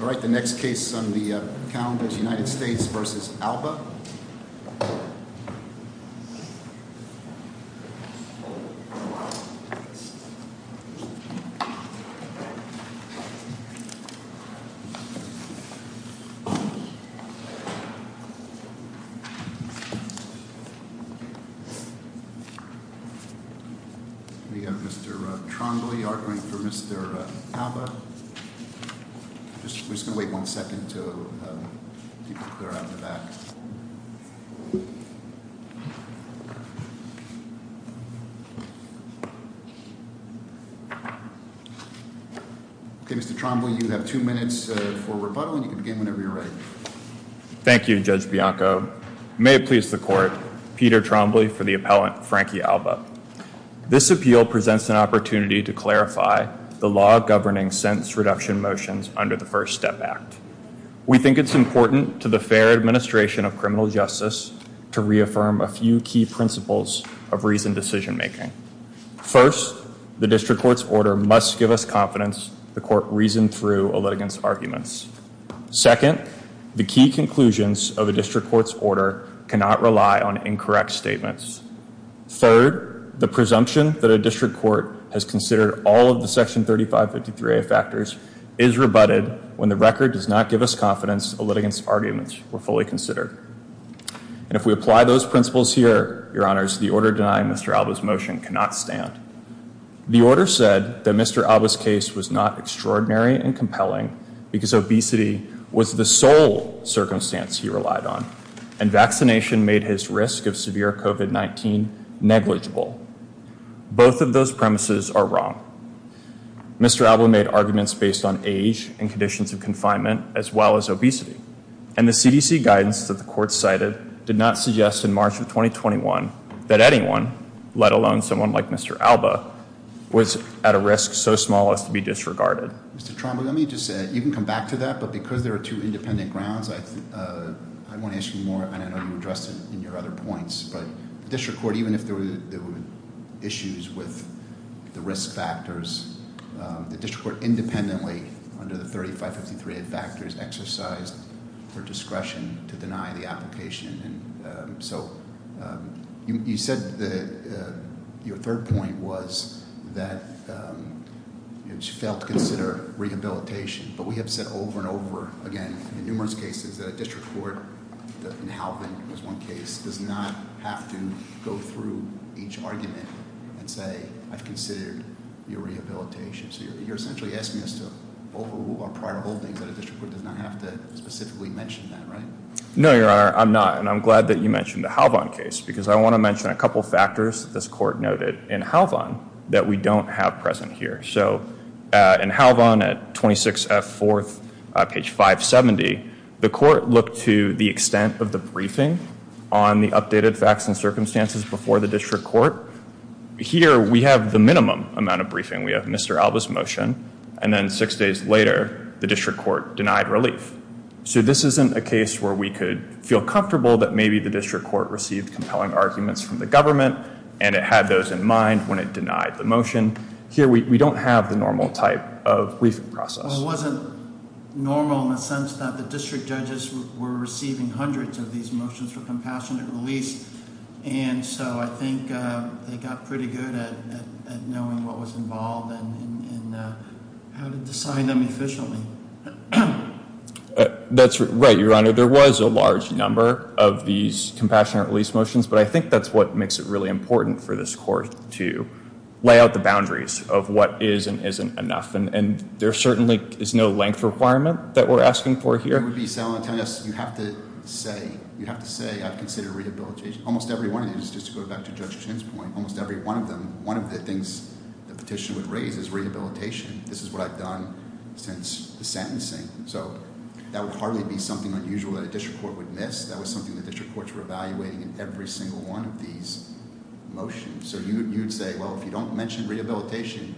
Alright, the next case on the calendar is United States v. Alba We have Mr. Trombley arguing for Mr. Alba Mr. Trombley, you have two minutes for rebuttal and you can begin whenever you're ready. Thank you, Judge Bianco. May it please the court, Peter Trombley for the appellant, Frankie Alba. This appeal presents an opportunity to clarify the law governing sentence reduction motions under the First Step Act. We think it's important to the fair administration of criminal justice to reaffirm a few key principles of reasoned decision making. First, the district court's order must give us confidence the court reasoned through a litigant's arguments. Second, the key conclusions of a district court's order cannot rely on incorrect statements. Third, the presumption that a district court has considered all of the Section 3553A factors is rebutted when the record does not give us confidence a litigant's arguments were fully considered. And if we apply those principles here, Your Honors, the order denying Mr. Alba's motion cannot stand. The order said that Mr. Alba's case was not extraordinary and compelling because obesity was the sole circumstance he relied on. And vaccination made his risk of severe COVID-19 negligible. Both of those premises are wrong. Mr. Alba made arguments based on age and conditions of confinement as well as obesity. And the CDC guidance that the court cited did not suggest in March of 2021 that anyone, let alone someone like Mr. Alba, was at a risk so small as to be disregarded. Mr. Tromberg, let me just say, you can come back to that, but because there are two independent grounds, I want to ask you more, and I know you addressed it in your other points. But the district court, even if there were issues with the risk factors, the district court independently, under the 3553A factors, exercised her discretion to deny the application. So you said your third point was that she failed to consider rehabilitation. But we have said over and over again in numerous cases that a district court, and Halvin was one case, does not have to go through each argument and say, I've considered your rehabilitation. So you're essentially asking us to overrule our prior holdings that a district court does not have to specifically mention that, right? No, Your Honor, I'm not. And I'm glad that you mentioned the Halvin case, because I want to mention a couple factors that this court noted in Halvin that we don't have present here. So in Halvin at 26F4, page 570, the court looked to the extent of the briefing on the updated facts and circumstances before the district court. Here we have the minimum amount of briefing. We have Mr. Alba's motion. And then six days later, the district court denied relief. So this isn't a case where we could feel comfortable that maybe the district court received compelling arguments from the government, and it had those in mind when it denied the motion. Here we don't have the normal type of briefing process. Well, it wasn't normal in the sense that the district judges were receiving hundreds of these motions for compassionate release. And so I think they got pretty good at knowing what was involved and how to decide them efficiently. That's right, Your Honor. There was a large number of these compassionate release motions, but I think that's what makes it really important for this court to lay out the boundaries of what is and isn't enough. And there certainly is no length requirement that we're asking for here. You have to say I've considered rehabilitation. Almost every one of these, just to go back to Judge Chin's point, almost every one of them, one of the things the petition would raise is rehabilitation. This is what I've done since the sentencing. So that would hardly be something unusual that a district court would miss. That was something the district courts were evaluating in every single one of these motions. So you'd say, well, if you don't mention rehabilitation,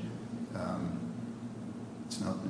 it's no good.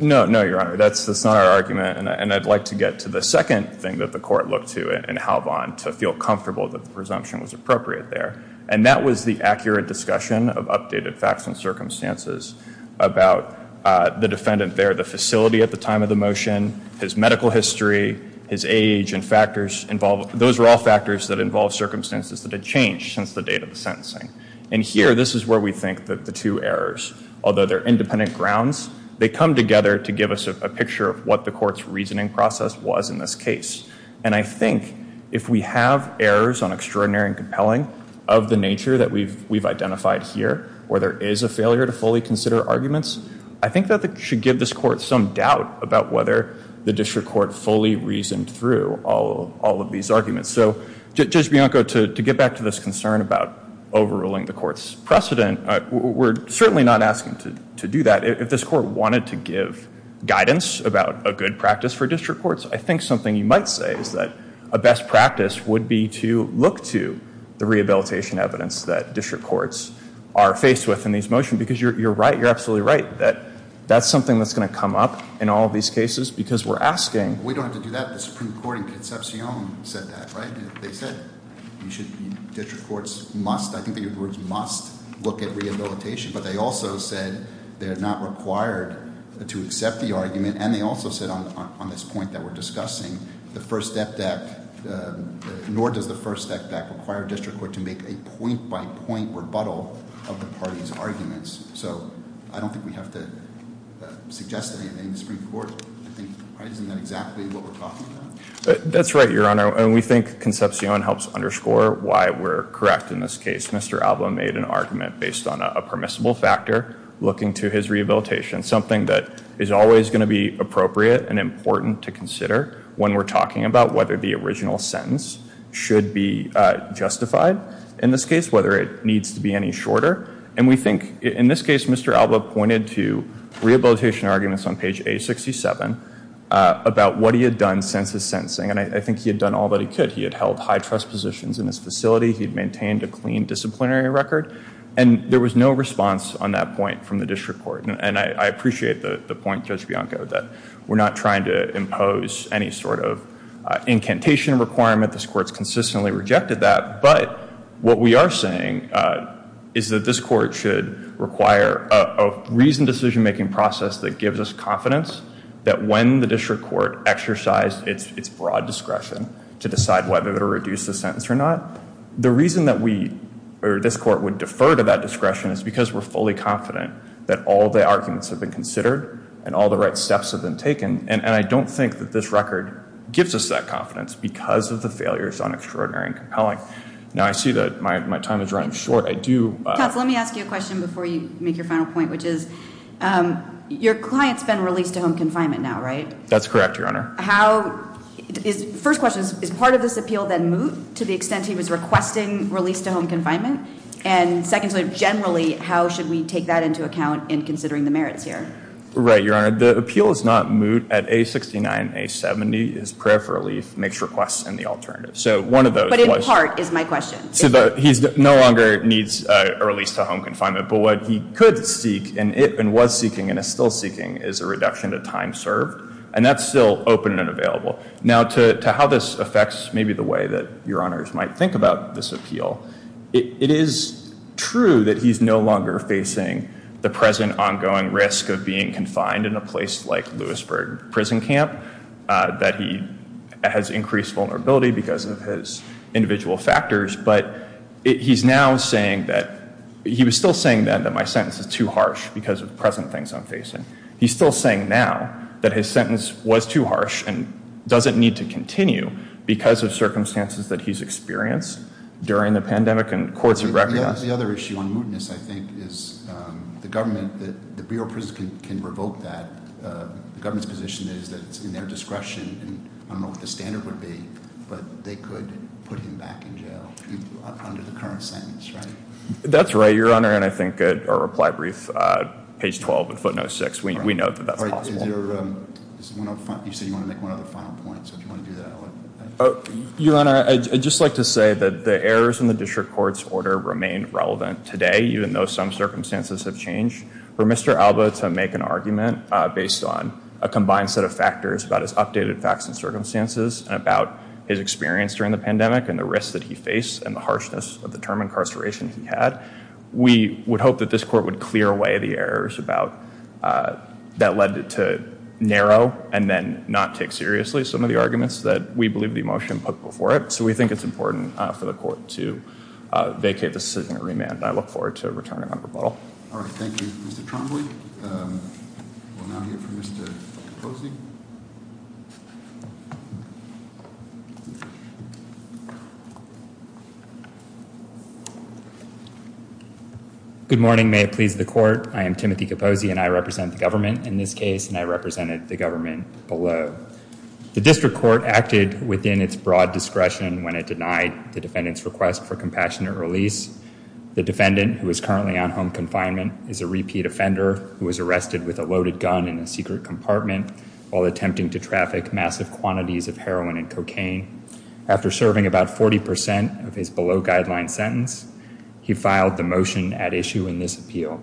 No, no, Your Honor, that's not our argument. And I'd like to get to the second thing that the court looked to in Halvon to feel comfortable that the presumption was appropriate there. And that was the accurate discussion of updated facts and circumstances about the defendant there, the facility at the time of the motion, his medical history, his age and factors involved. Those are all factors that involve circumstances that have changed since the date of the sentencing. And here, this is where we think that the two errors, although they're independent grounds, they come together to give us a picture of what the court's reasoning process was in this case. And I think if we have errors on extraordinary and compelling of the nature that we've identified here, where there is a failure to fully consider arguments, I think that should give this court some doubt about whether the district court fully reasoned through all of these arguments. So, Judge Bianco, to get back to this concern about overruling the court's precedent, we're certainly not asking to do that. If this court wanted to give guidance about a good practice for district courts, I think something you might say is that a best practice would be to look to the rehabilitation evidence that district courts are faced with in these motions because you're right. You're absolutely right that that's something that's going to come up in all of these cases because we're asking. We don't have to do that. The Supreme Court in Concepcion said that, right? They said district courts must, I think that your words must, look at rehabilitation. But they also said they're not required to accept the argument. And they also said on this point that we're discussing, the first FDAC, nor does the first FDAC require district court to make a point-by-point rebuttal of the parties' arguments. So, I don't think we have to suggest anything in the Supreme Court. Isn't that exactly what we're talking about? That's right, Your Honor. And we think Concepcion helps underscore why we're correct in this case. Mr. Alba made an argument based on a permissible factor looking to his rehabilitation, something that is always going to be appropriate and important to consider when we're talking about whether the original sentence should be justified. In this case, whether it needs to be any shorter. And we think, in this case, Mr. Alba pointed to rehabilitation arguments on page A67 about what he had done since his sentencing. And I think he had done all that he could. He had held high-trust positions in his facility. He had maintained a clean disciplinary record. And there was no response on that point from the district court. And I appreciate the point, Judge Bianco, that we're not trying to impose any sort of incantation requirement. This Court's consistently rejected that. But what we are saying is that this Court should require a reasoned decision-making process that gives us confidence that when the district court exercised its broad discretion to decide whether to reduce the sentence or not, the reason that this Court would defer to that discretion is because we're fully confident that all the arguments have been considered and all the right steps have been taken. And I don't think that this record gives us that confidence because of the failures on Extraordinary and Compelling. Now, I see that my time is running short. I do. Counsel, let me ask you a question before you make your final point, which is your client's been released to home confinement now, right? That's correct, Your Honor. First question, is part of this appeal then moot to the extent he was requesting release to home confinement? And secondly, generally, how should we take that into account in considering the merits here? Right, Your Honor. The appeal is not moot at A69, A70. His prayer for relief makes requests in the alternative. But in part is my question. So he no longer needs a release to home confinement, but what he could seek and was seeking and is still seeking is a reduction to time served, and that's still open and available. Now, to how this affects maybe the way that Your Honors might think about this appeal, it is true that he's no longer facing the present ongoing risk of being confined in a place like Lewisburg Prison Camp, that he has increased vulnerability because of his individual factors, but he's now saying that he was still saying that my sentence is too harsh because of the present things I'm facing. He's still saying now that his sentence was too harsh and doesn't need to continue because of circumstances that he's experienced during the pandemic and courts have recognized. The other issue on mootness, I think, is the government, the Bureau of Prisons can revoke that. The government's position is that it's in their discretion, and I don't know what the standard would be, but they could put him back in jail under the current sentence, right? That's right, Your Honor, and I think our reply brief, page 12 in footnote 6, we know that that's possible. You said you want to make one other final point, so if you want to do that, I would. Your Honor, I'd just like to say that the errors in the district court's order remain relevant today, even though some circumstances have changed. For Mr. Alba to make an argument based on a combined set of factors about his updated facts and circumstances, about his experience during the pandemic and the risks that he faced and the harshness of the term incarceration he had, we would hope that this court would clear away the errors that led it to narrow and then not take seriously some of the arguments that we believe the motion put before it. So we think it's important for the court to vacate this decision at remand, and I look forward to returning it on rebuttal. All right. Thank you, Mr. Trombley. We'll now hear from Mr. Capozzi. Good morning. May it please the court. I am Timothy Capozzi, and I represent the government in this case, and I represented the government below. The district court acted within its broad discretion when it denied the defendant's request for compassionate release. The defendant, who is currently on home confinement, is a repeat offender who was arrested with a loaded gun in a secret compartment while attempting to traffic massive quantities of heroin and cocaine. After serving about 40 percent of his below-guideline sentence, he filed the motion at issue in this appeal.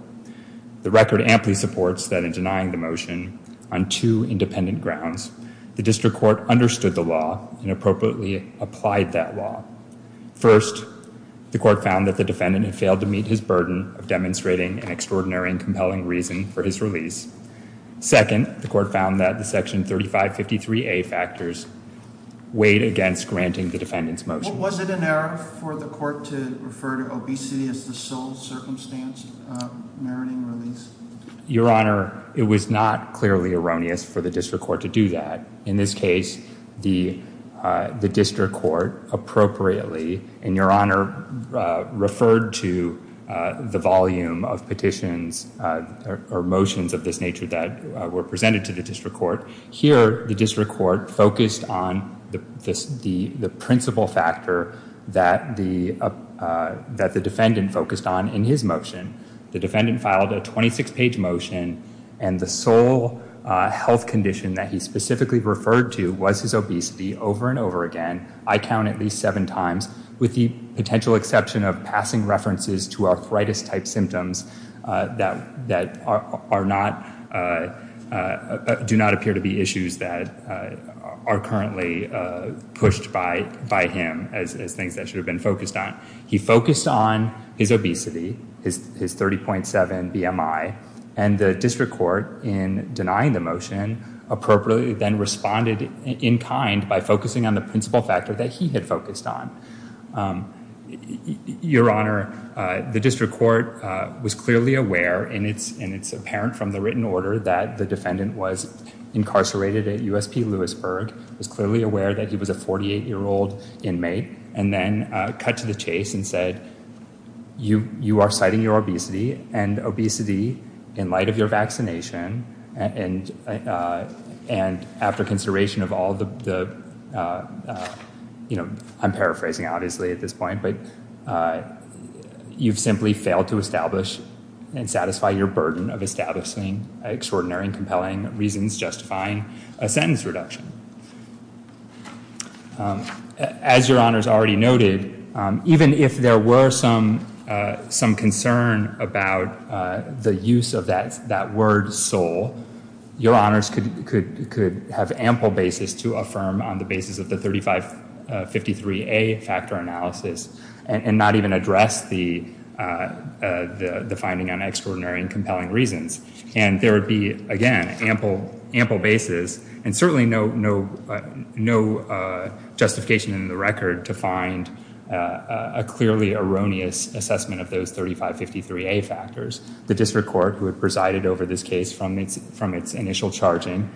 The record amply supports that in denying the motion on two independent grounds, the district court understood the law and appropriately applied that law. First, the court found that the defendant had failed to meet his burden of demonstrating an extraordinary and compelling reason for his release. Second, the court found that the Section 3553A factors weighed against granting the defendant's motion. Was it an error for the court to refer to obesity as the sole circumstance meriting release? Your Honor, it was not clearly erroneous for the district court to do that. In this case, the district court appropriately, and Your Honor, referred to the volume of petitions or motions of this nature that were presented to the district court. Here, the district court focused on the principal factor that the defendant focused on in his motion. The defendant filed a 26-page motion, and the sole health condition that he specifically referred to was his obesity over and over again. I count at least seven times, with the potential exception of passing references to arthritis-type symptoms that do not appear to be issues that are currently pushed by him as things that should have been focused on. He focused on his obesity, his 30.7 BMI, and the district court, in denying the motion, appropriately then responded in kind by focusing on the principal factor that he had focused on. Your Honor, the district court was clearly aware, and it's apparent from the written order that the defendant was incarcerated at USP Lewisburg, was clearly aware that he was a 48-year-old inmate, and then cut to the chase and said, you are citing your obesity, and obesity in light of your vaccination, and after consideration of all the, you know, I'm paraphrasing obviously at this point, but you've simply failed to establish and satisfy your burden of establishing extraordinary and compelling reasons justifying a sentence reduction. As Your Honors already noted, even if there were some concern about the use of that word sole, Your Honors could have ample basis to affirm on the basis of the 3553A factor analysis, and not even address the finding on extraordinary and compelling reasons. And there would be, again, ample basis, and certainly no justification in the record to find a clearly erroneous assessment of those 3553A factors. The district court, who had presided over this case from its initial charging,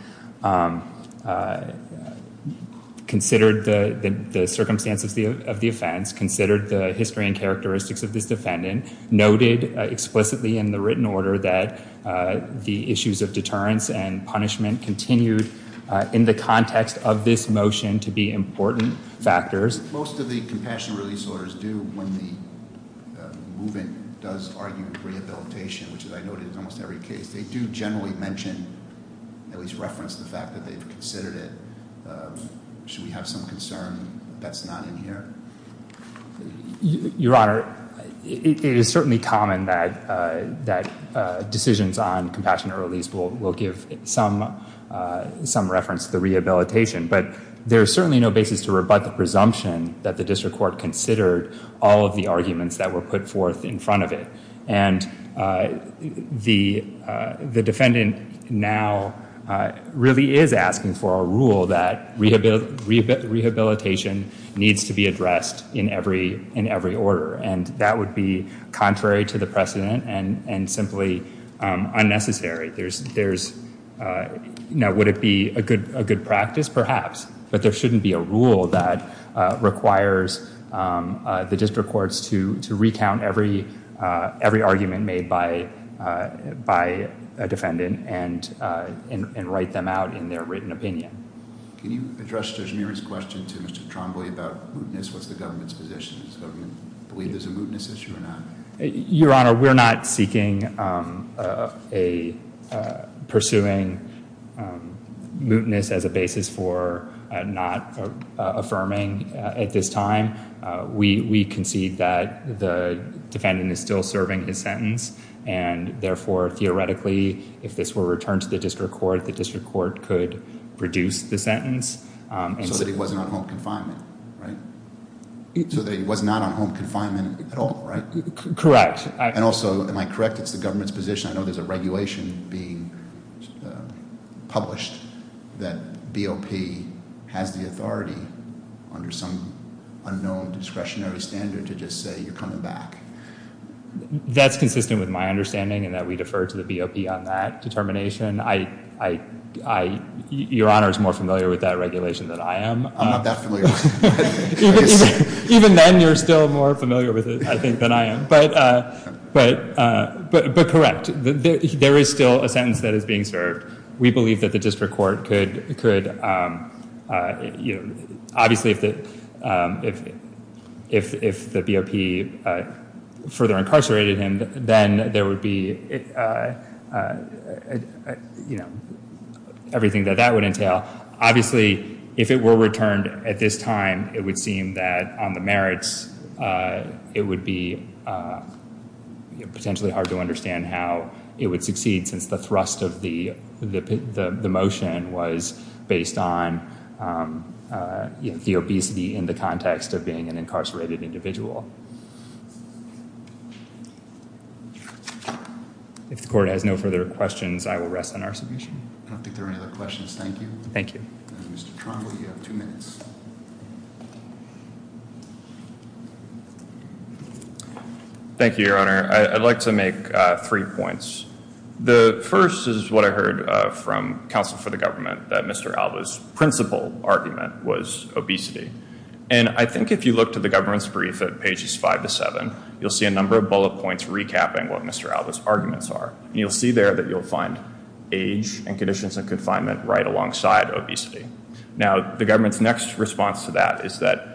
considered the circumstances of the offense, considered the history and characteristics of this defendant, noted explicitly in the written order that the issues of deterrence and punishment continued in the context of this motion to be important factors. As most of the compassion release orders do when the movement does argue rehabilitation, which as I noted in almost every case, they do generally mention, at least reference the fact that they've considered it. Should we have some concern that's not in here? Your Honor, it is certainly common that decisions on compassion release will give some reference to the rehabilitation, but there is certainly no basis to rebut the presumption that the district court considered all of the arguments that were put forth in front of it. And the defendant now really is asking for a rule that rehabilitation needs to be addressed in every order, and that would be contrary to the precedent and simply unnecessary. Now, would it be a good practice? Perhaps. But there shouldn't be a rule that requires the district courts to recount every argument made by a defendant and write them out in their written opinion. Can you address Judge Meary's question to Mr. Trombley about mootness? What's the government's position? Does the government believe there's a mootness issue or not? Your Honor, we're not seeking a pursuing mootness as a basis for not affirming at this time. We concede that the defendant is still serving his sentence, and therefore, theoretically, if this were returned to the district court, the district court could reduce the sentence. So that he wasn't on home confinement, right? So that he was not on home confinement at all, right? Correct. And also, am I correct, it's the government's position? I know there's a regulation being published that BOP has the authority under some unknown discretionary standard to just say you're coming back. That's consistent with my understanding and that we defer to the BOP on that determination. Your Honor is more familiar with that regulation than I am. I'm not that familiar with it. Even then, you're still more familiar with it, I think, than I am. But correct, there is still a sentence that is being served. We believe that the district court could, obviously, if the BOP further incarcerated him, then there would be, you know, everything that that would entail. Obviously, if it were returned at this time, it would seem that on the merits, it would be potentially hard to understand how it would succeed since the thrust of the motion was based on the obesity in the context of being an incarcerated individual. If the court has no further questions, I will rest on our submission. I don't think there are any other questions. Thank you. Thank you. Mr. Tromble, you have two minutes. Thank you, Your Honor. I'd like to make three points. The first is what I heard from counsel for the government, that Mr. Alba's principal argument was obesity. And I think if you look to the government's brief at pages five to seven, you'll see a number of bullet points recapping what Mr. Alba's arguments are. And you'll see there that you'll find age and conditions of confinement right alongside obesity. Now, the government's next response to that is that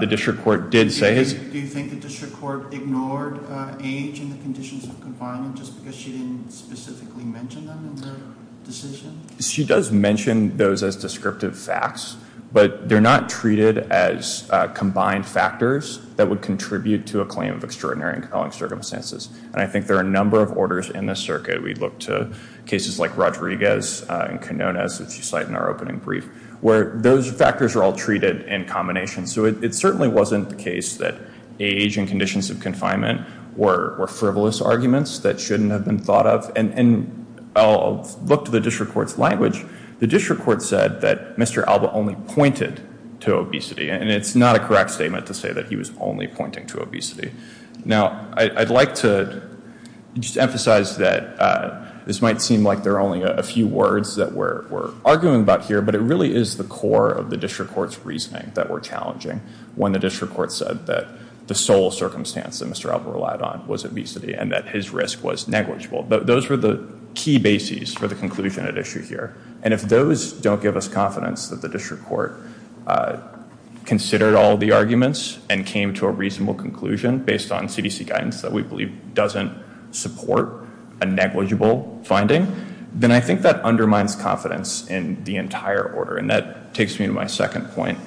the district court did say... Do you think the district court ignored age and the conditions of confinement just because she didn't specifically mention them in the decision? She does mention those as descriptive facts, but they're not treated as combined factors that would contribute to a claim of extraordinary and compelling circumstances. And I think there are a number of orders in this circuit. We look to cases like Rodriguez and Canones, which you cite in our opening brief, where those factors are all treated in combination. So it certainly wasn't the case that age and conditions of confinement were frivolous arguments that shouldn't have been thought of. And I'll look to the district court's language. The district court said that Mr. Alba only pointed to obesity. And it's not a correct statement to say that he was only pointing to obesity. Now, I'd like to just emphasize that this might seem like there are only a few words that we're arguing about here, but it really is the core of the district court's reasoning that were challenging when the district court said that the sole circumstance that Mr. Alba relied on was obesity and that his risk was negligible. Those were the key bases for the conclusion at issue here. And if those don't give us confidence that the district court considered all the arguments and came to a reasonable conclusion based on CDC guidance that we believe doesn't support a negligible finding, then I think that undermines confidence in the entire order. And that takes me to my second point,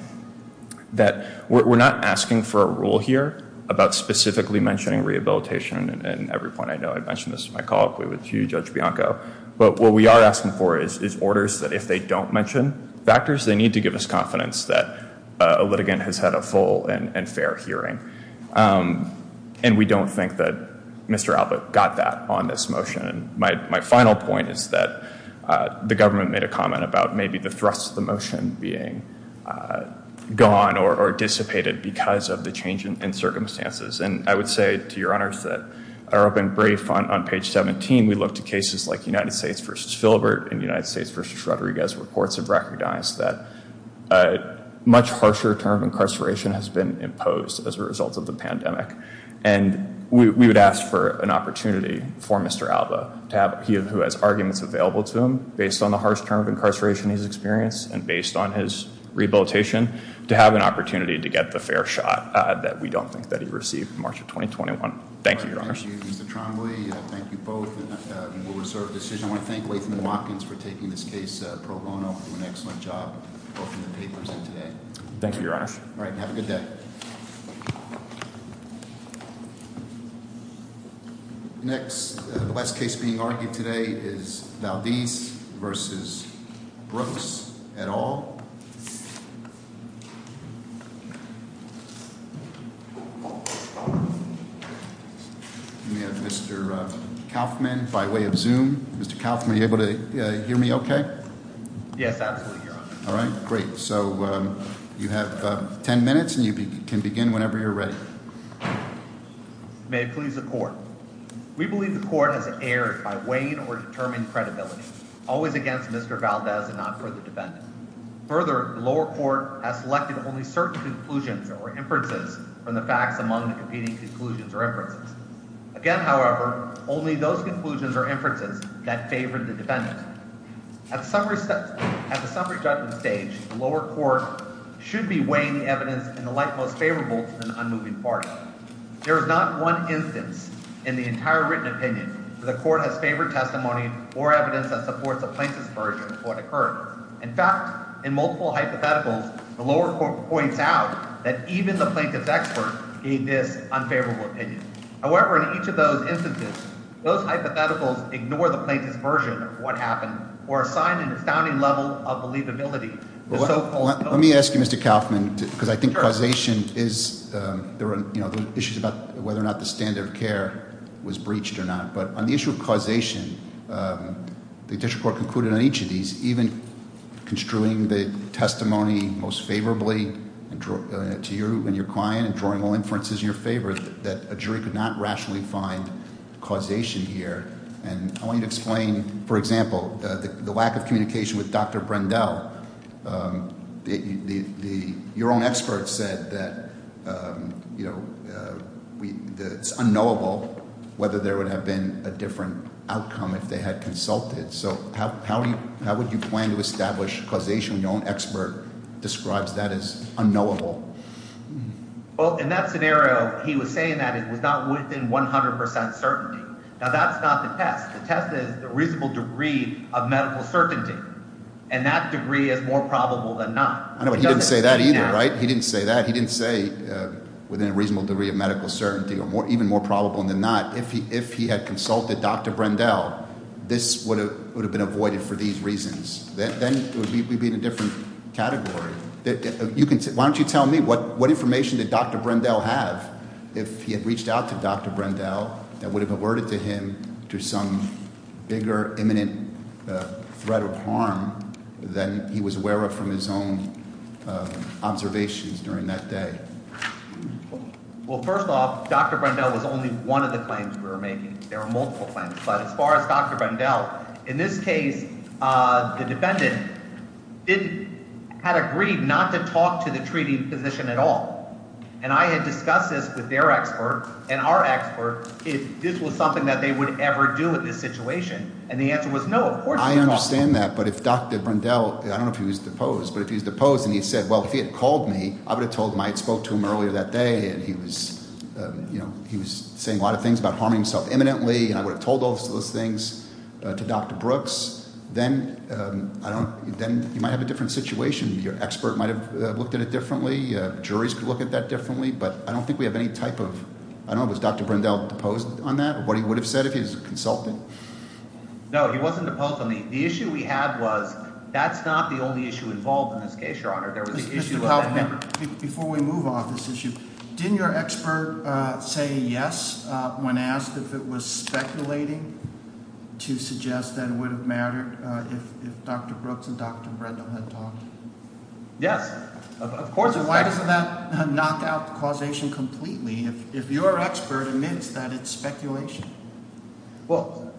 that we're not asking for a rule here about specifically mentioning rehabilitation in every point I know. I mentioned this in my call with you, Judge Bianco. But what we are asking for is orders that if they don't mention factors, they need to give us confidence that a litigant has had a full and fair hearing. And we don't think that Mr. Alba got that on this motion. My final point is that the government made a comment about maybe the thrust of the motion being gone or dissipated because of the change in circumstances. And I would say to your honors that in our open brief on page 17, we looked at cases like United States v. Filbert and United States v. Rodriguez. Reports have recognized that a much harsher term of incarceration has been imposed as a result of the pandemic. And we would ask for an opportunity for Mr. Alba, who has arguments available to him, based on the harsh term of incarceration he's experienced and based on his rehabilitation, to have an opportunity to get the fair shot that we don't think that he received in March of 2021. Thank you, your honors. Thank you, Mr. Trombley. Thank you both. And we will reserve the decision. I want to thank Latham and Watkins for taking this case pro bono. They did an excellent job both in the papers and today. Thank you, your honors. All right. Have a good day. Next, the last case being argued today is Valdez v. Brooks et al. We have Mr. Kaufman by way of Zoom. Mr. Kaufman, are you able to hear me okay? Yes, absolutely, your honor. All right. Great. So you have ten minutes and you can begin whenever you're ready. May it please the court. We believe the court has erred by weighing or determining credibility, always against Mr. Valdez and not for the defendant. Further, the lower court has selected only certain conclusions or inferences from the facts among the competing conclusions or inferences. Again, however, only those conclusions or inferences that favored the defendant. At the summary judgment stage, the lower court should be weighing the evidence in the light most favorable to the unmoving party. There is not one instance in the entire written opinion where the court has favored testimony or evidence that supports the plaintiff's version of what occurred. In fact, in multiple hypotheticals, the lower court points out that even the plaintiff's expert gave this unfavorable opinion. However, in each of those instances, those hypotheticals ignore the plaintiff's version of what happened or assign an astounding level of believability. Let me ask you, Mr. Kaufman, because I think causation is, there are issues about whether or not the standard of care was breached or not. But on the issue of causation, the district court concluded on each of these, even construing the testimony most favorably to you and your client, and drawing all inferences in your favor, that a jury could not rationally find causation here. And I want you to explain, for example, the lack of communication with Dr. Brendel, your own expert said that it's unknowable whether there would have been a different outcome if they had consulted. So how would you plan to establish causation when your own expert describes that as unknowable? Well, in that scenario, he was saying that it was not within 100% certainty. Now, that's not the test. The test is the reasonable degree of medical certainty, and that degree is more probable than not. I know, but he didn't say that either, right? He didn't say that. He didn't say within a reasonable degree of medical certainty or even more probable than not. If he had consulted Dr. Brendel, this would have been avoided for these reasons. Then we'd be in a different category. Why don't you tell me, what information did Dr. Brendel have? If he had reached out to Dr. Brendel, that would have alerted to him to some bigger, imminent threat of harm than he was aware of from his own observations during that day. Well, first off, Dr. Brendel was only one of the claims we were making. There were multiple claims. But as far as Dr. Brendel, in this case, the defendant had agreed not to talk to the treating physician at all. And I had discussed this with their expert and our expert if this was something that they would ever do in this situation. And the answer was no. Of course they talked to him. I understand that. But if Dr. Brendel, I don't know if he was deposed, but if he was deposed and he said, well, if he had called me, I would have told him I had spoke to him earlier that day, and he was saying a lot of things about harming himself imminently, and I would have told those things to Dr. Brooks. Then you might have a different situation. Your expert might have looked at it differently. Juries could look at that differently. But I don't think we have any type of – I don't know, was Dr. Brendel deposed on that, what he would have said if he was a consultant? No, he wasn't deposed on that. The issue we had was that's not the only issue involved in this case, Your Honor. There was the issue of that member. Before we move on this issue, didn't your expert say yes when asked if it was speculating to suggest that it would have mattered if Dr. Brooks and Dr. Brendel had talked? Yes, of course. Why doesn't that knock out the causation completely if your expert admits that it's speculation? Well,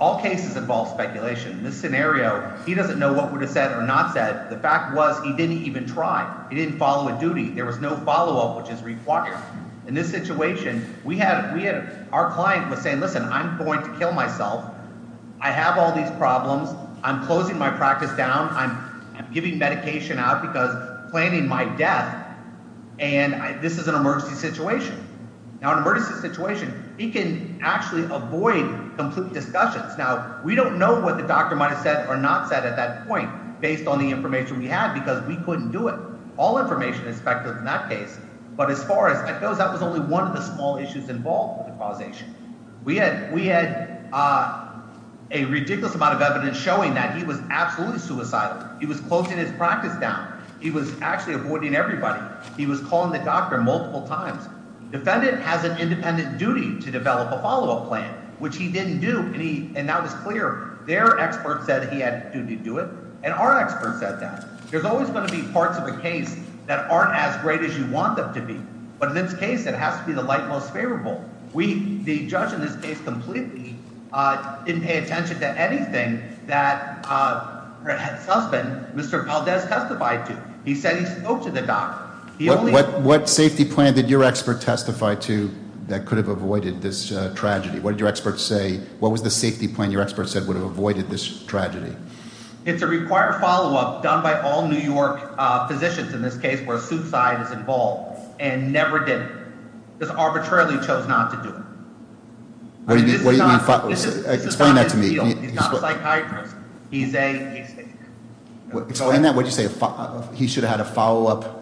all cases involve speculation. In this scenario, he doesn't know what would have said or not said. The fact was he didn't even try. He didn't follow a duty. There was no follow-up, which is required. In this situation, we had – our client was saying, listen, I'm going to kill myself. I have all these problems. I'm closing my practice down. I'm giving medication out because I'm planning my death, and this is an emergency situation. Now, in an emergency situation, he can actually avoid complete discussions. Now, we don't know what the doctor might have said or not said at that point based on the information we had because we couldn't do it. All information is speculative in that case, but as far as that goes, that was only one of the small issues involved with the causation. We had a ridiculous amount of evidence showing that he was absolutely suicidal. He was closing his practice down. He was actually avoiding everybody. He was calling the doctor multiple times. Defendant has an independent duty to develop a follow-up plan, which he didn't do, and that was clear. Their expert said he had a duty to do it, and our expert said that. There's always going to be parts of a case that aren't as great as you want them to be. But in this case, it has to be the light most favorable. The judge in this case completely didn't pay attention to anything that her husband, Mr. Valdez, testified to. He said he spoke to the doctor. What safety plan did your expert testify to that could have avoided this tragedy? What did your expert say? What was the safety plan your expert said would have avoided this tragedy? It's a required follow-up done by all New York physicians in this case where suicide is involved, and never did it. Just arbitrarily chose not to do it. What do you mean? Explain that to me. He's not a psychiatrist. He's a- Explain that. What did you say? He should have had a follow-up.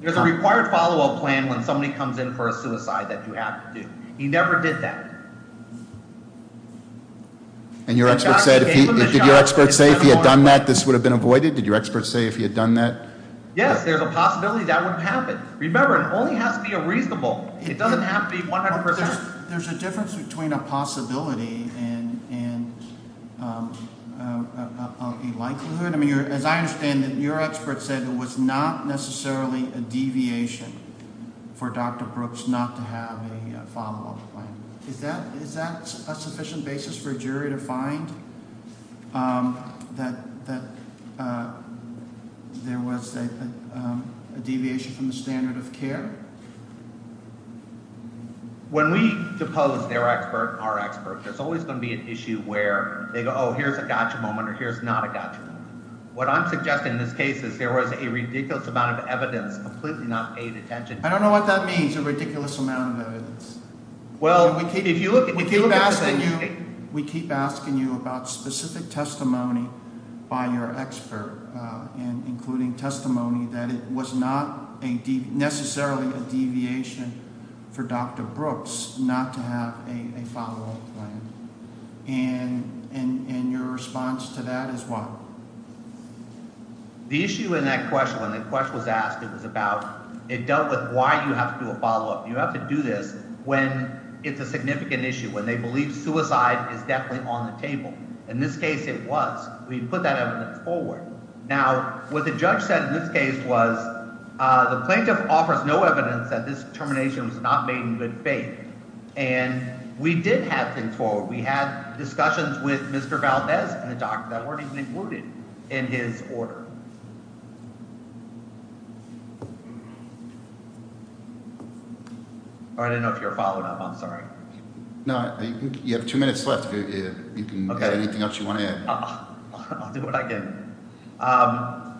There's a required follow-up plan when somebody comes in for a suicide that you have to do. He never did that. And your expert said if he had done that, this would have been avoided? Did your expert say if he had done that? Yes, there's a possibility that would have happened. Remember, it only has to be a reasonable. It doesn't have to be 100%. There's a difference between a possibility and a likelihood. As I understand it, your expert said it was not necessarily a deviation for Dr. Brooks not to have a follow-up plan. Is that a sufficient basis for a jury to find that there was a deviation from the standard of care? When we depose their expert and our expert, there's always going to be an issue where they go, oh, here's a gotcha moment or here's not a gotcha moment. What I'm suggesting in this case is there was a ridiculous amount of evidence completely not paid attention to. I don't know what that means, a ridiculous amount of evidence. We keep asking you about specific testimony by your expert, including testimony that it was not necessarily a deviation for Dr. Brooks not to have a follow-up plan. And your response to that is what? The issue in that question, when the question was asked, it was about – it dealt with why you have to do a follow-up. You have to do this when it's a significant issue, when they believe suicide is definitely on the table. In this case, it was. We put that evidence forward. Now, what the judge said in this case was the plaintiff offers no evidence that this termination was not made in good faith. And we did have things forward. We had discussions with Mr. Valdez and the doctor that weren't even included in his order. I don't know if you're followed up. I'm sorry. No, you have two minutes left. You can add anything else you want to add. I'll do what I can.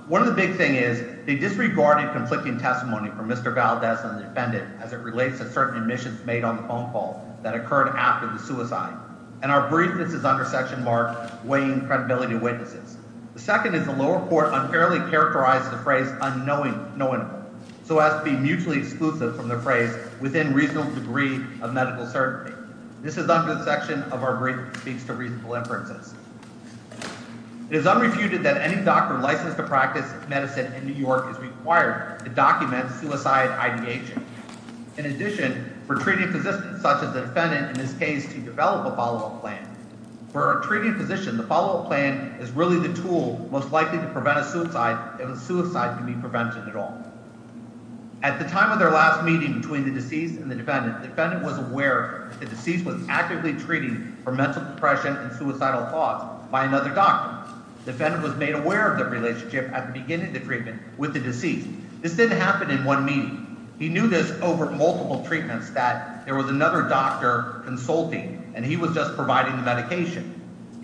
One of the big things is they disregarded conflicting testimony from Mr. Valdez and the defendant as it relates to certain admissions made on the phone call that occurred after the suicide. And our brief, this is under Section Mark, weighing credibility of witnesses. The second is the lower court unfairly characterized the phrase unknowingly, so as to be mutually exclusive from the phrase within reasonable degree of medical certainty. This is under the section of our brief that speaks to reasonable inferences. It is unrefuted that any doctor licensed to practice medicine in New York is required to document suicide IDH. In addition, for treating physicians, such as the defendant in this case, to develop a follow-up plan. For a treating physician, the follow-up plan is really the tool most likely to prevent a suicide if a suicide can be prevented at all. At the time of their last meeting between the deceased and the defendant, the defendant was aware that the deceased was actively treating for mental depression and suicidal thoughts by another doctor. The defendant was made aware of their relationship at the beginning of the treatment with the deceased. This didn't happen in one meeting. He knew this over multiple treatments, that there was another doctor consulting, and he was just providing the medication.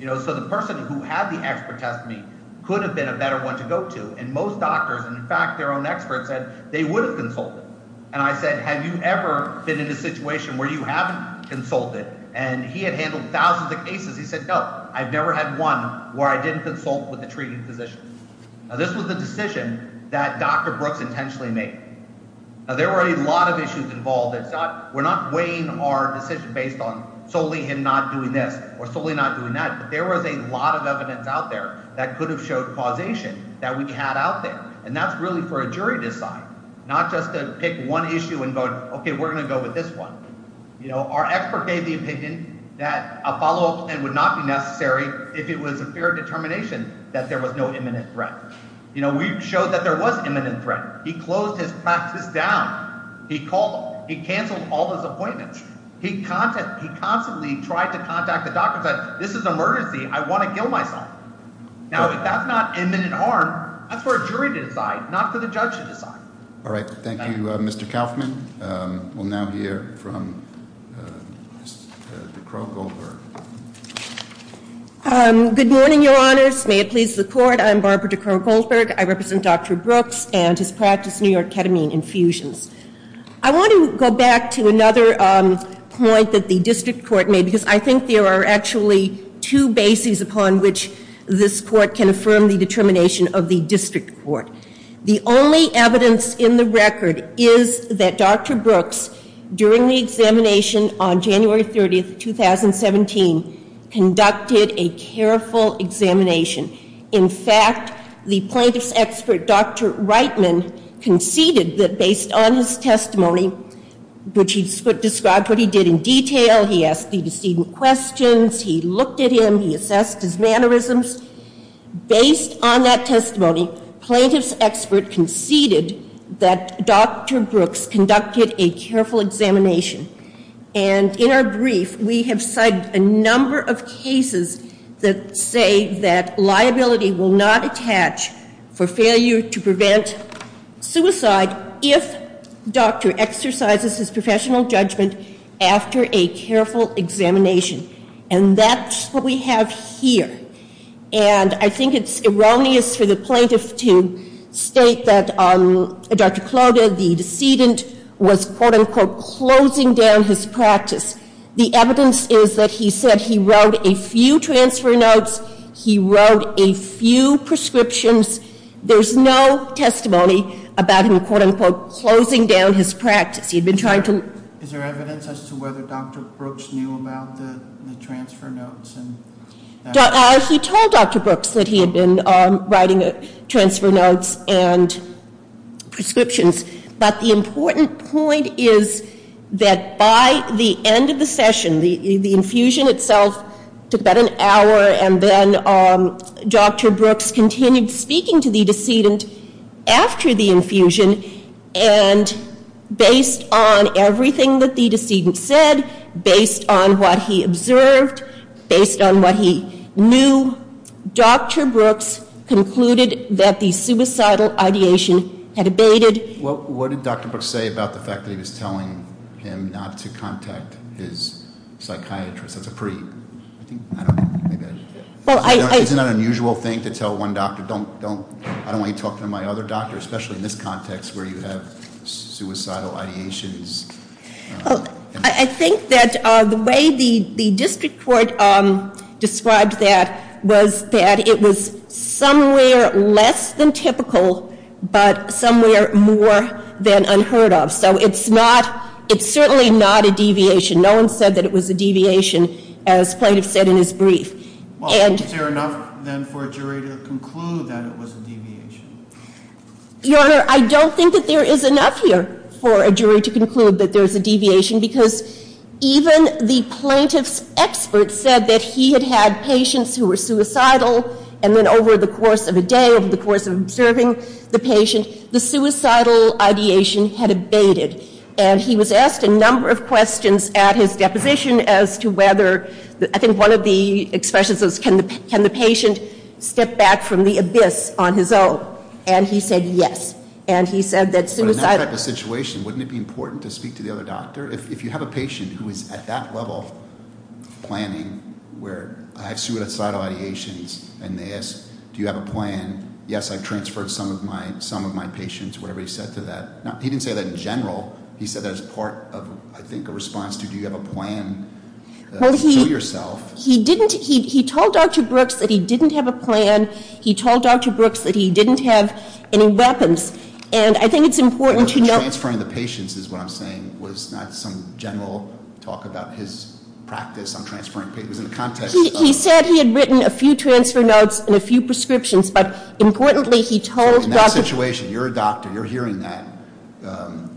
So the person who had the expert test meet could have been a better one to go to. And most doctors, and in fact their own experts, said they would have consulted. And I said, have you ever been in a situation where you haven't consulted? And he had handled thousands of cases. He said, no, I've never had one where I didn't consult with a treating physician. Now, this was a decision that Dr. Brooks intentionally made. Now, there were a lot of issues involved. We're not weighing our decision based on solely him not doing this or solely not doing that. But there was a lot of evidence out there that could have showed causation that we had out there. And that's really for a jury to decide, not just to pick one issue and go, okay, we're going to go with this one. Our expert gave the opinion that a follow-up plan would not be necessary if it was a fair determination that there was no imminent threat. We showed that there was imminent threat. He closed his practice down. He canceled all his appointments. He constantly tried to contact the doctors. This is an emergency. I want to kill myself. Now, if that's not imminent harm, that's for a jury to decide, not for the judge to decide. All right, thank you, Mr. Kaufman. We'll now hear from Ms. DeCrow-Goldberg. Good morning, Your Honors. May it please the Court. I'm Barbara DeCrow-Goldberg. I represent Dr. Brooks and his practice, New York Ketamine Infusions. I want to go back to another point that the district court made, because I think there are actually two bases upon which this court can affirm the determination of the district court. The only evidence in the record is that Dr. Brooks, during the examination on January 30th, 2017, conducted a careful examination. In fact, the plaintiff's expert, Dr. Reitman, conceded that based on his testimony, which he described what he did in detail, he asked the decedent questions, he looked at him, he assessed his mannerisms. Based on that testimony, plaintiff's expert conceded that Dr. Brooks conducted a careful examination. And in our brief, we have cited a number of cases that say that liability will not attach for failure to prevent suicide if doctor exercises his professional judgment after a careful examination. And that's what we have here. And I think it's erroneous for the plaintiff to state that Dr. Clota, the decedent, was quote-unquote closing down his practice. The evidence is that he said he wrote a few transfer notes, he wrote a few prescriptions. There's no testimony about him quote-unquote closing down his practice. He'd been trying to- Is there evidence as to whether Dr. Brooks knew about the transfer notes? He told Dr. Brooks that he had been writing transfer notes and prescriptions. But the important point is that by the end of the session, the infusion itself took about an hour, and then Dr. Brooks continued speaking to the decedent after the infusion, and based on everything that the decedent said, based on what he observed, based on what he knew, Dr. Brooks concluded that the suicidal ideation had abated. Well, what did Dr. Brooks say about the fact that he was telling him not to contact his psychiatrist? That's a pretty, I think, I don't know. Isn't that an unusual thing to tell one doctor, I don't want you talking to my other doctor, especially in this context where you have suicidal ideations? I think that the way the district court described that was that it was somewhere less than typical, but somewhere more than unheard of. Well, is there enough then for a jury to conclude that it was a deviation? Your Honor, I don't think that there is enough here for a jury to conclude that there is a deviation, because even the plaintiff's expert said that he had had patients who were suicidal, and then over the course of a day, over the course of observing the patient, the suicidal ideation had abated. And he was asked a number of questions at his deposition as to whether, I think one of the expressions was, can the patient step back from the abyss on his own? And he said yes, and he said that suicidal... But in that type of situation, wouldn't it be important to speak to the other doctor? If you have a patient who is at that level of planning, where I have suicidal ideations, and they ask, do you have a plan, yes, I transferred some of my patients, whatever he said to that. He didn't say that in general. He said that as part of, I think, a response to, do you have a plan to show yourself. He didn't. He told Dr. Brooks that he didn't have a plan. He told Dr. Brooks that he didn't have any weapons. And I think it's important to note... Transferring the patients is what I'm saying, was not some general talk about his practice on transferring patients. It was in the context of... He said he had written a few transfer notes and a few prescriptions, but importantly, he told Dr. Brooks... In that situation, you're a doctor, you're hearing that,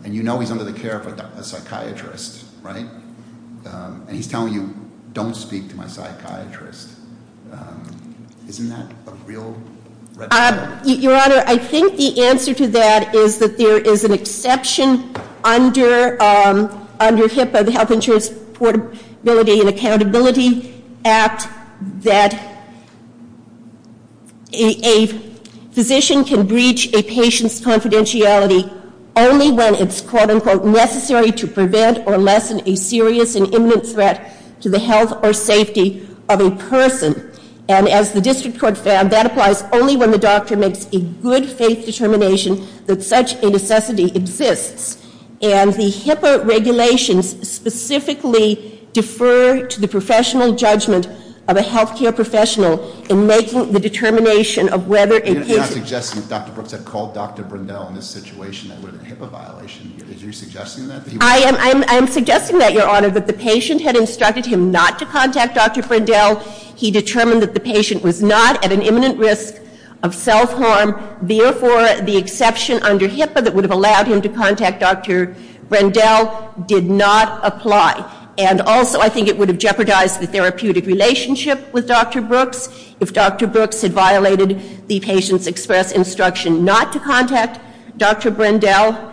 and you know he's under the care of a psychiatrist, right? And he's telling you, don't speak to my psychiatrist. Isn't that a real red flag? Your Honor, I think the answer to that is that there is an exception under HIPAA, under the Health Insurance Portability and Accountability Act, that a physician can breach a patient's confidentiality only when it's, quote-unquote, necessary to prevent or lessen a serious and imminent threat to the health or safety of a person. And as the district court found, that applies only when the doctor makes a good faith determination that such a necessity exists. And the HIPAA regulations specifically defer to the professional judgment of a health care professional in making the determination of whether a patient... You're not suggesting that Dr. Brooks had called Dr. Brindel in this situation that would have been a HIPAA violation. Are you suggesting that? I am suggesting that, Your Honor, that the patient had instructed him not to contact Dr. Brindel. He determined that the patient was not at an imminent risk of self-harm. Therefore, the exception under HIPAA that would have allowed him to contact Dr. Brindel did not apply. And also, I think it would have jeopardized the therapeutic relationship with Dr. Brooks if Dr. Brooks had violated the patient's express instruction not to contact Dr. Brindel.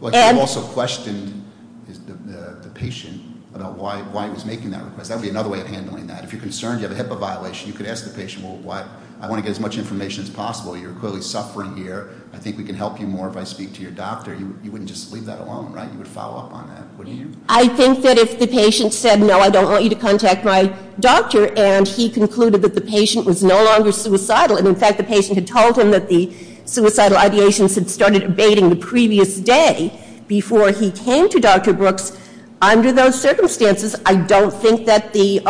But you also questioned the patient about why he was making that request. That would be another way of handling that. If you're concerned you have a HIPAA violation, you could ask the patient, well, I want to get as much information as possible. You're clearly suffering here. I think we can help you more if I speak to your doctor. You wouldn't just leave that alone, right? You would follow up on that, wouldn't you? I think that if the patient said, no, I don't want you to contact my doctor, and he concluded that the patient was no longer suicidal, and in fact the patient had told him that the suicidal ideations had started abating the previous day before he came to Dr. Brooks, under those circumstances, I don't think that the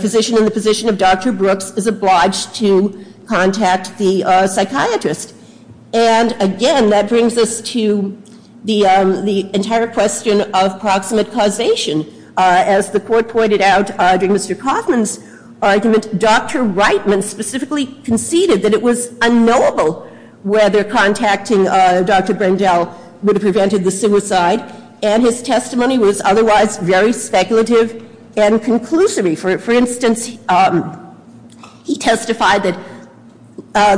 physician in the position of Dr. Brooks is obliged to contact the psychiatrist. And again, that brings us to the entire question of proximate causation. As the court pointed out during Mr. Kaufman's argument, Dr. Reitman specifically conceded that it was unknowable whether contacting Dr. Brindel would have prevented the suicide, and his testimony was otherwise very speculative and conclusive. For instance, he testified that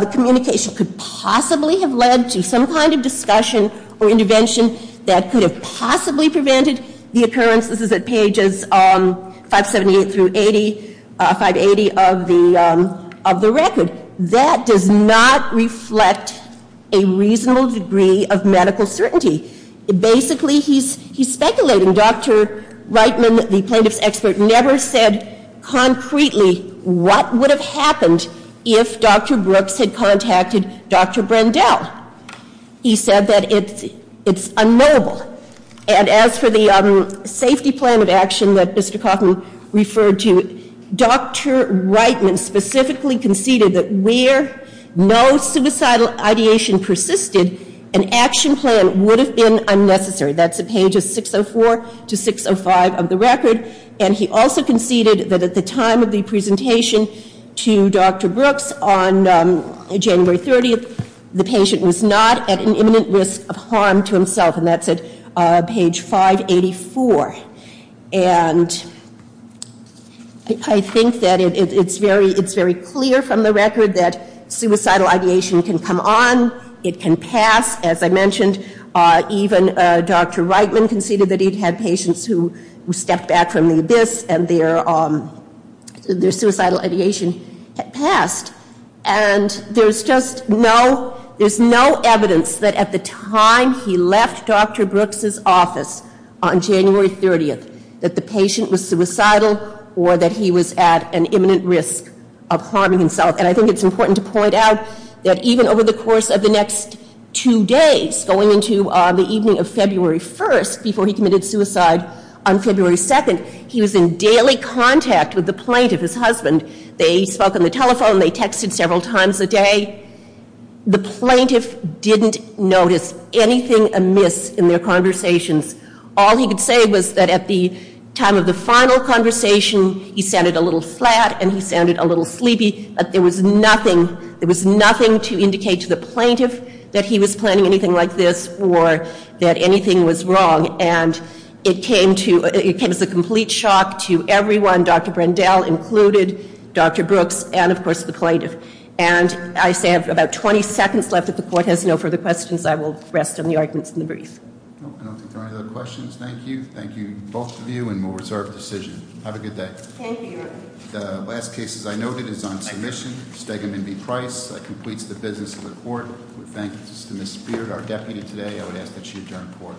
the communication could possibly have led to some kind of discussion or intervention that could have possibly prevented the occurrence. This is at pages 578 through 580 of the record. That does not reflect a reasonable degree of medical certainty. Basically, he's speculating. Dr. Reitman, the plaintiff's expert, never said concretely what would have happened if Dr. Brooks had contacted Dr. Brindel. He said that it's unknowable. And as for the safety plan of action that Mr. Kaufman referred to, Dr. Reitman specifically conceded that where no suicidal ideation persisted, an action plan would have been unnecessary. That's at pages 604 to 605 of the record. And he also conceded that at the time of the presentation to Dr. Brooks on January 30th, the patient was not at an imminent risk of harm to himself, and that's at page 584. And I think that it's very clear from the record that suicidal ideation can come on, it can pass. As I mentioned, even Dr. Reitman conceded that he'd had patients who stepped back from the abyss and their suicidal ideation had passed. And there's just no evidence that at the time he left Dr. Brooks' office on January 30th, that the patient was suicidal or that he was at an imminent risk of harming himself. And I think it's important to point out that even over the course of the next two days, going into the evening of February 1st, before he committed suicide on February 2nd, he was in daily contact with the plaintiff, his husband. They spoke on the telephone. They texted several times a day. The plaintiff didn't notice anything amiss in their conversations. All he could say was that at the time of the final conversation, he sounded a little flat and he sounded a little sleepy. There was nothing to indicate to the plaintiff that he was planning anything like this or that anything was wrong. And it came as a complete shock to everyone, Dr. Brendel included, Dr. Brooks, and, of course, the plaintiff. And I say I have about 20 seconds left. If the Court has no further questions, I will rest on the arguments in the brief. I don't think there are any other questions. Thank you. Thank you, both of you, and we'll reserve the decision. Have a good day. Thank you. The last case, as I noted, is on submission, Stegeman v. Price. That completes the business of the Court. We thank Ms. Spear, our deputy today. I would ask that she adjourn the Court. The Court stands adjourned.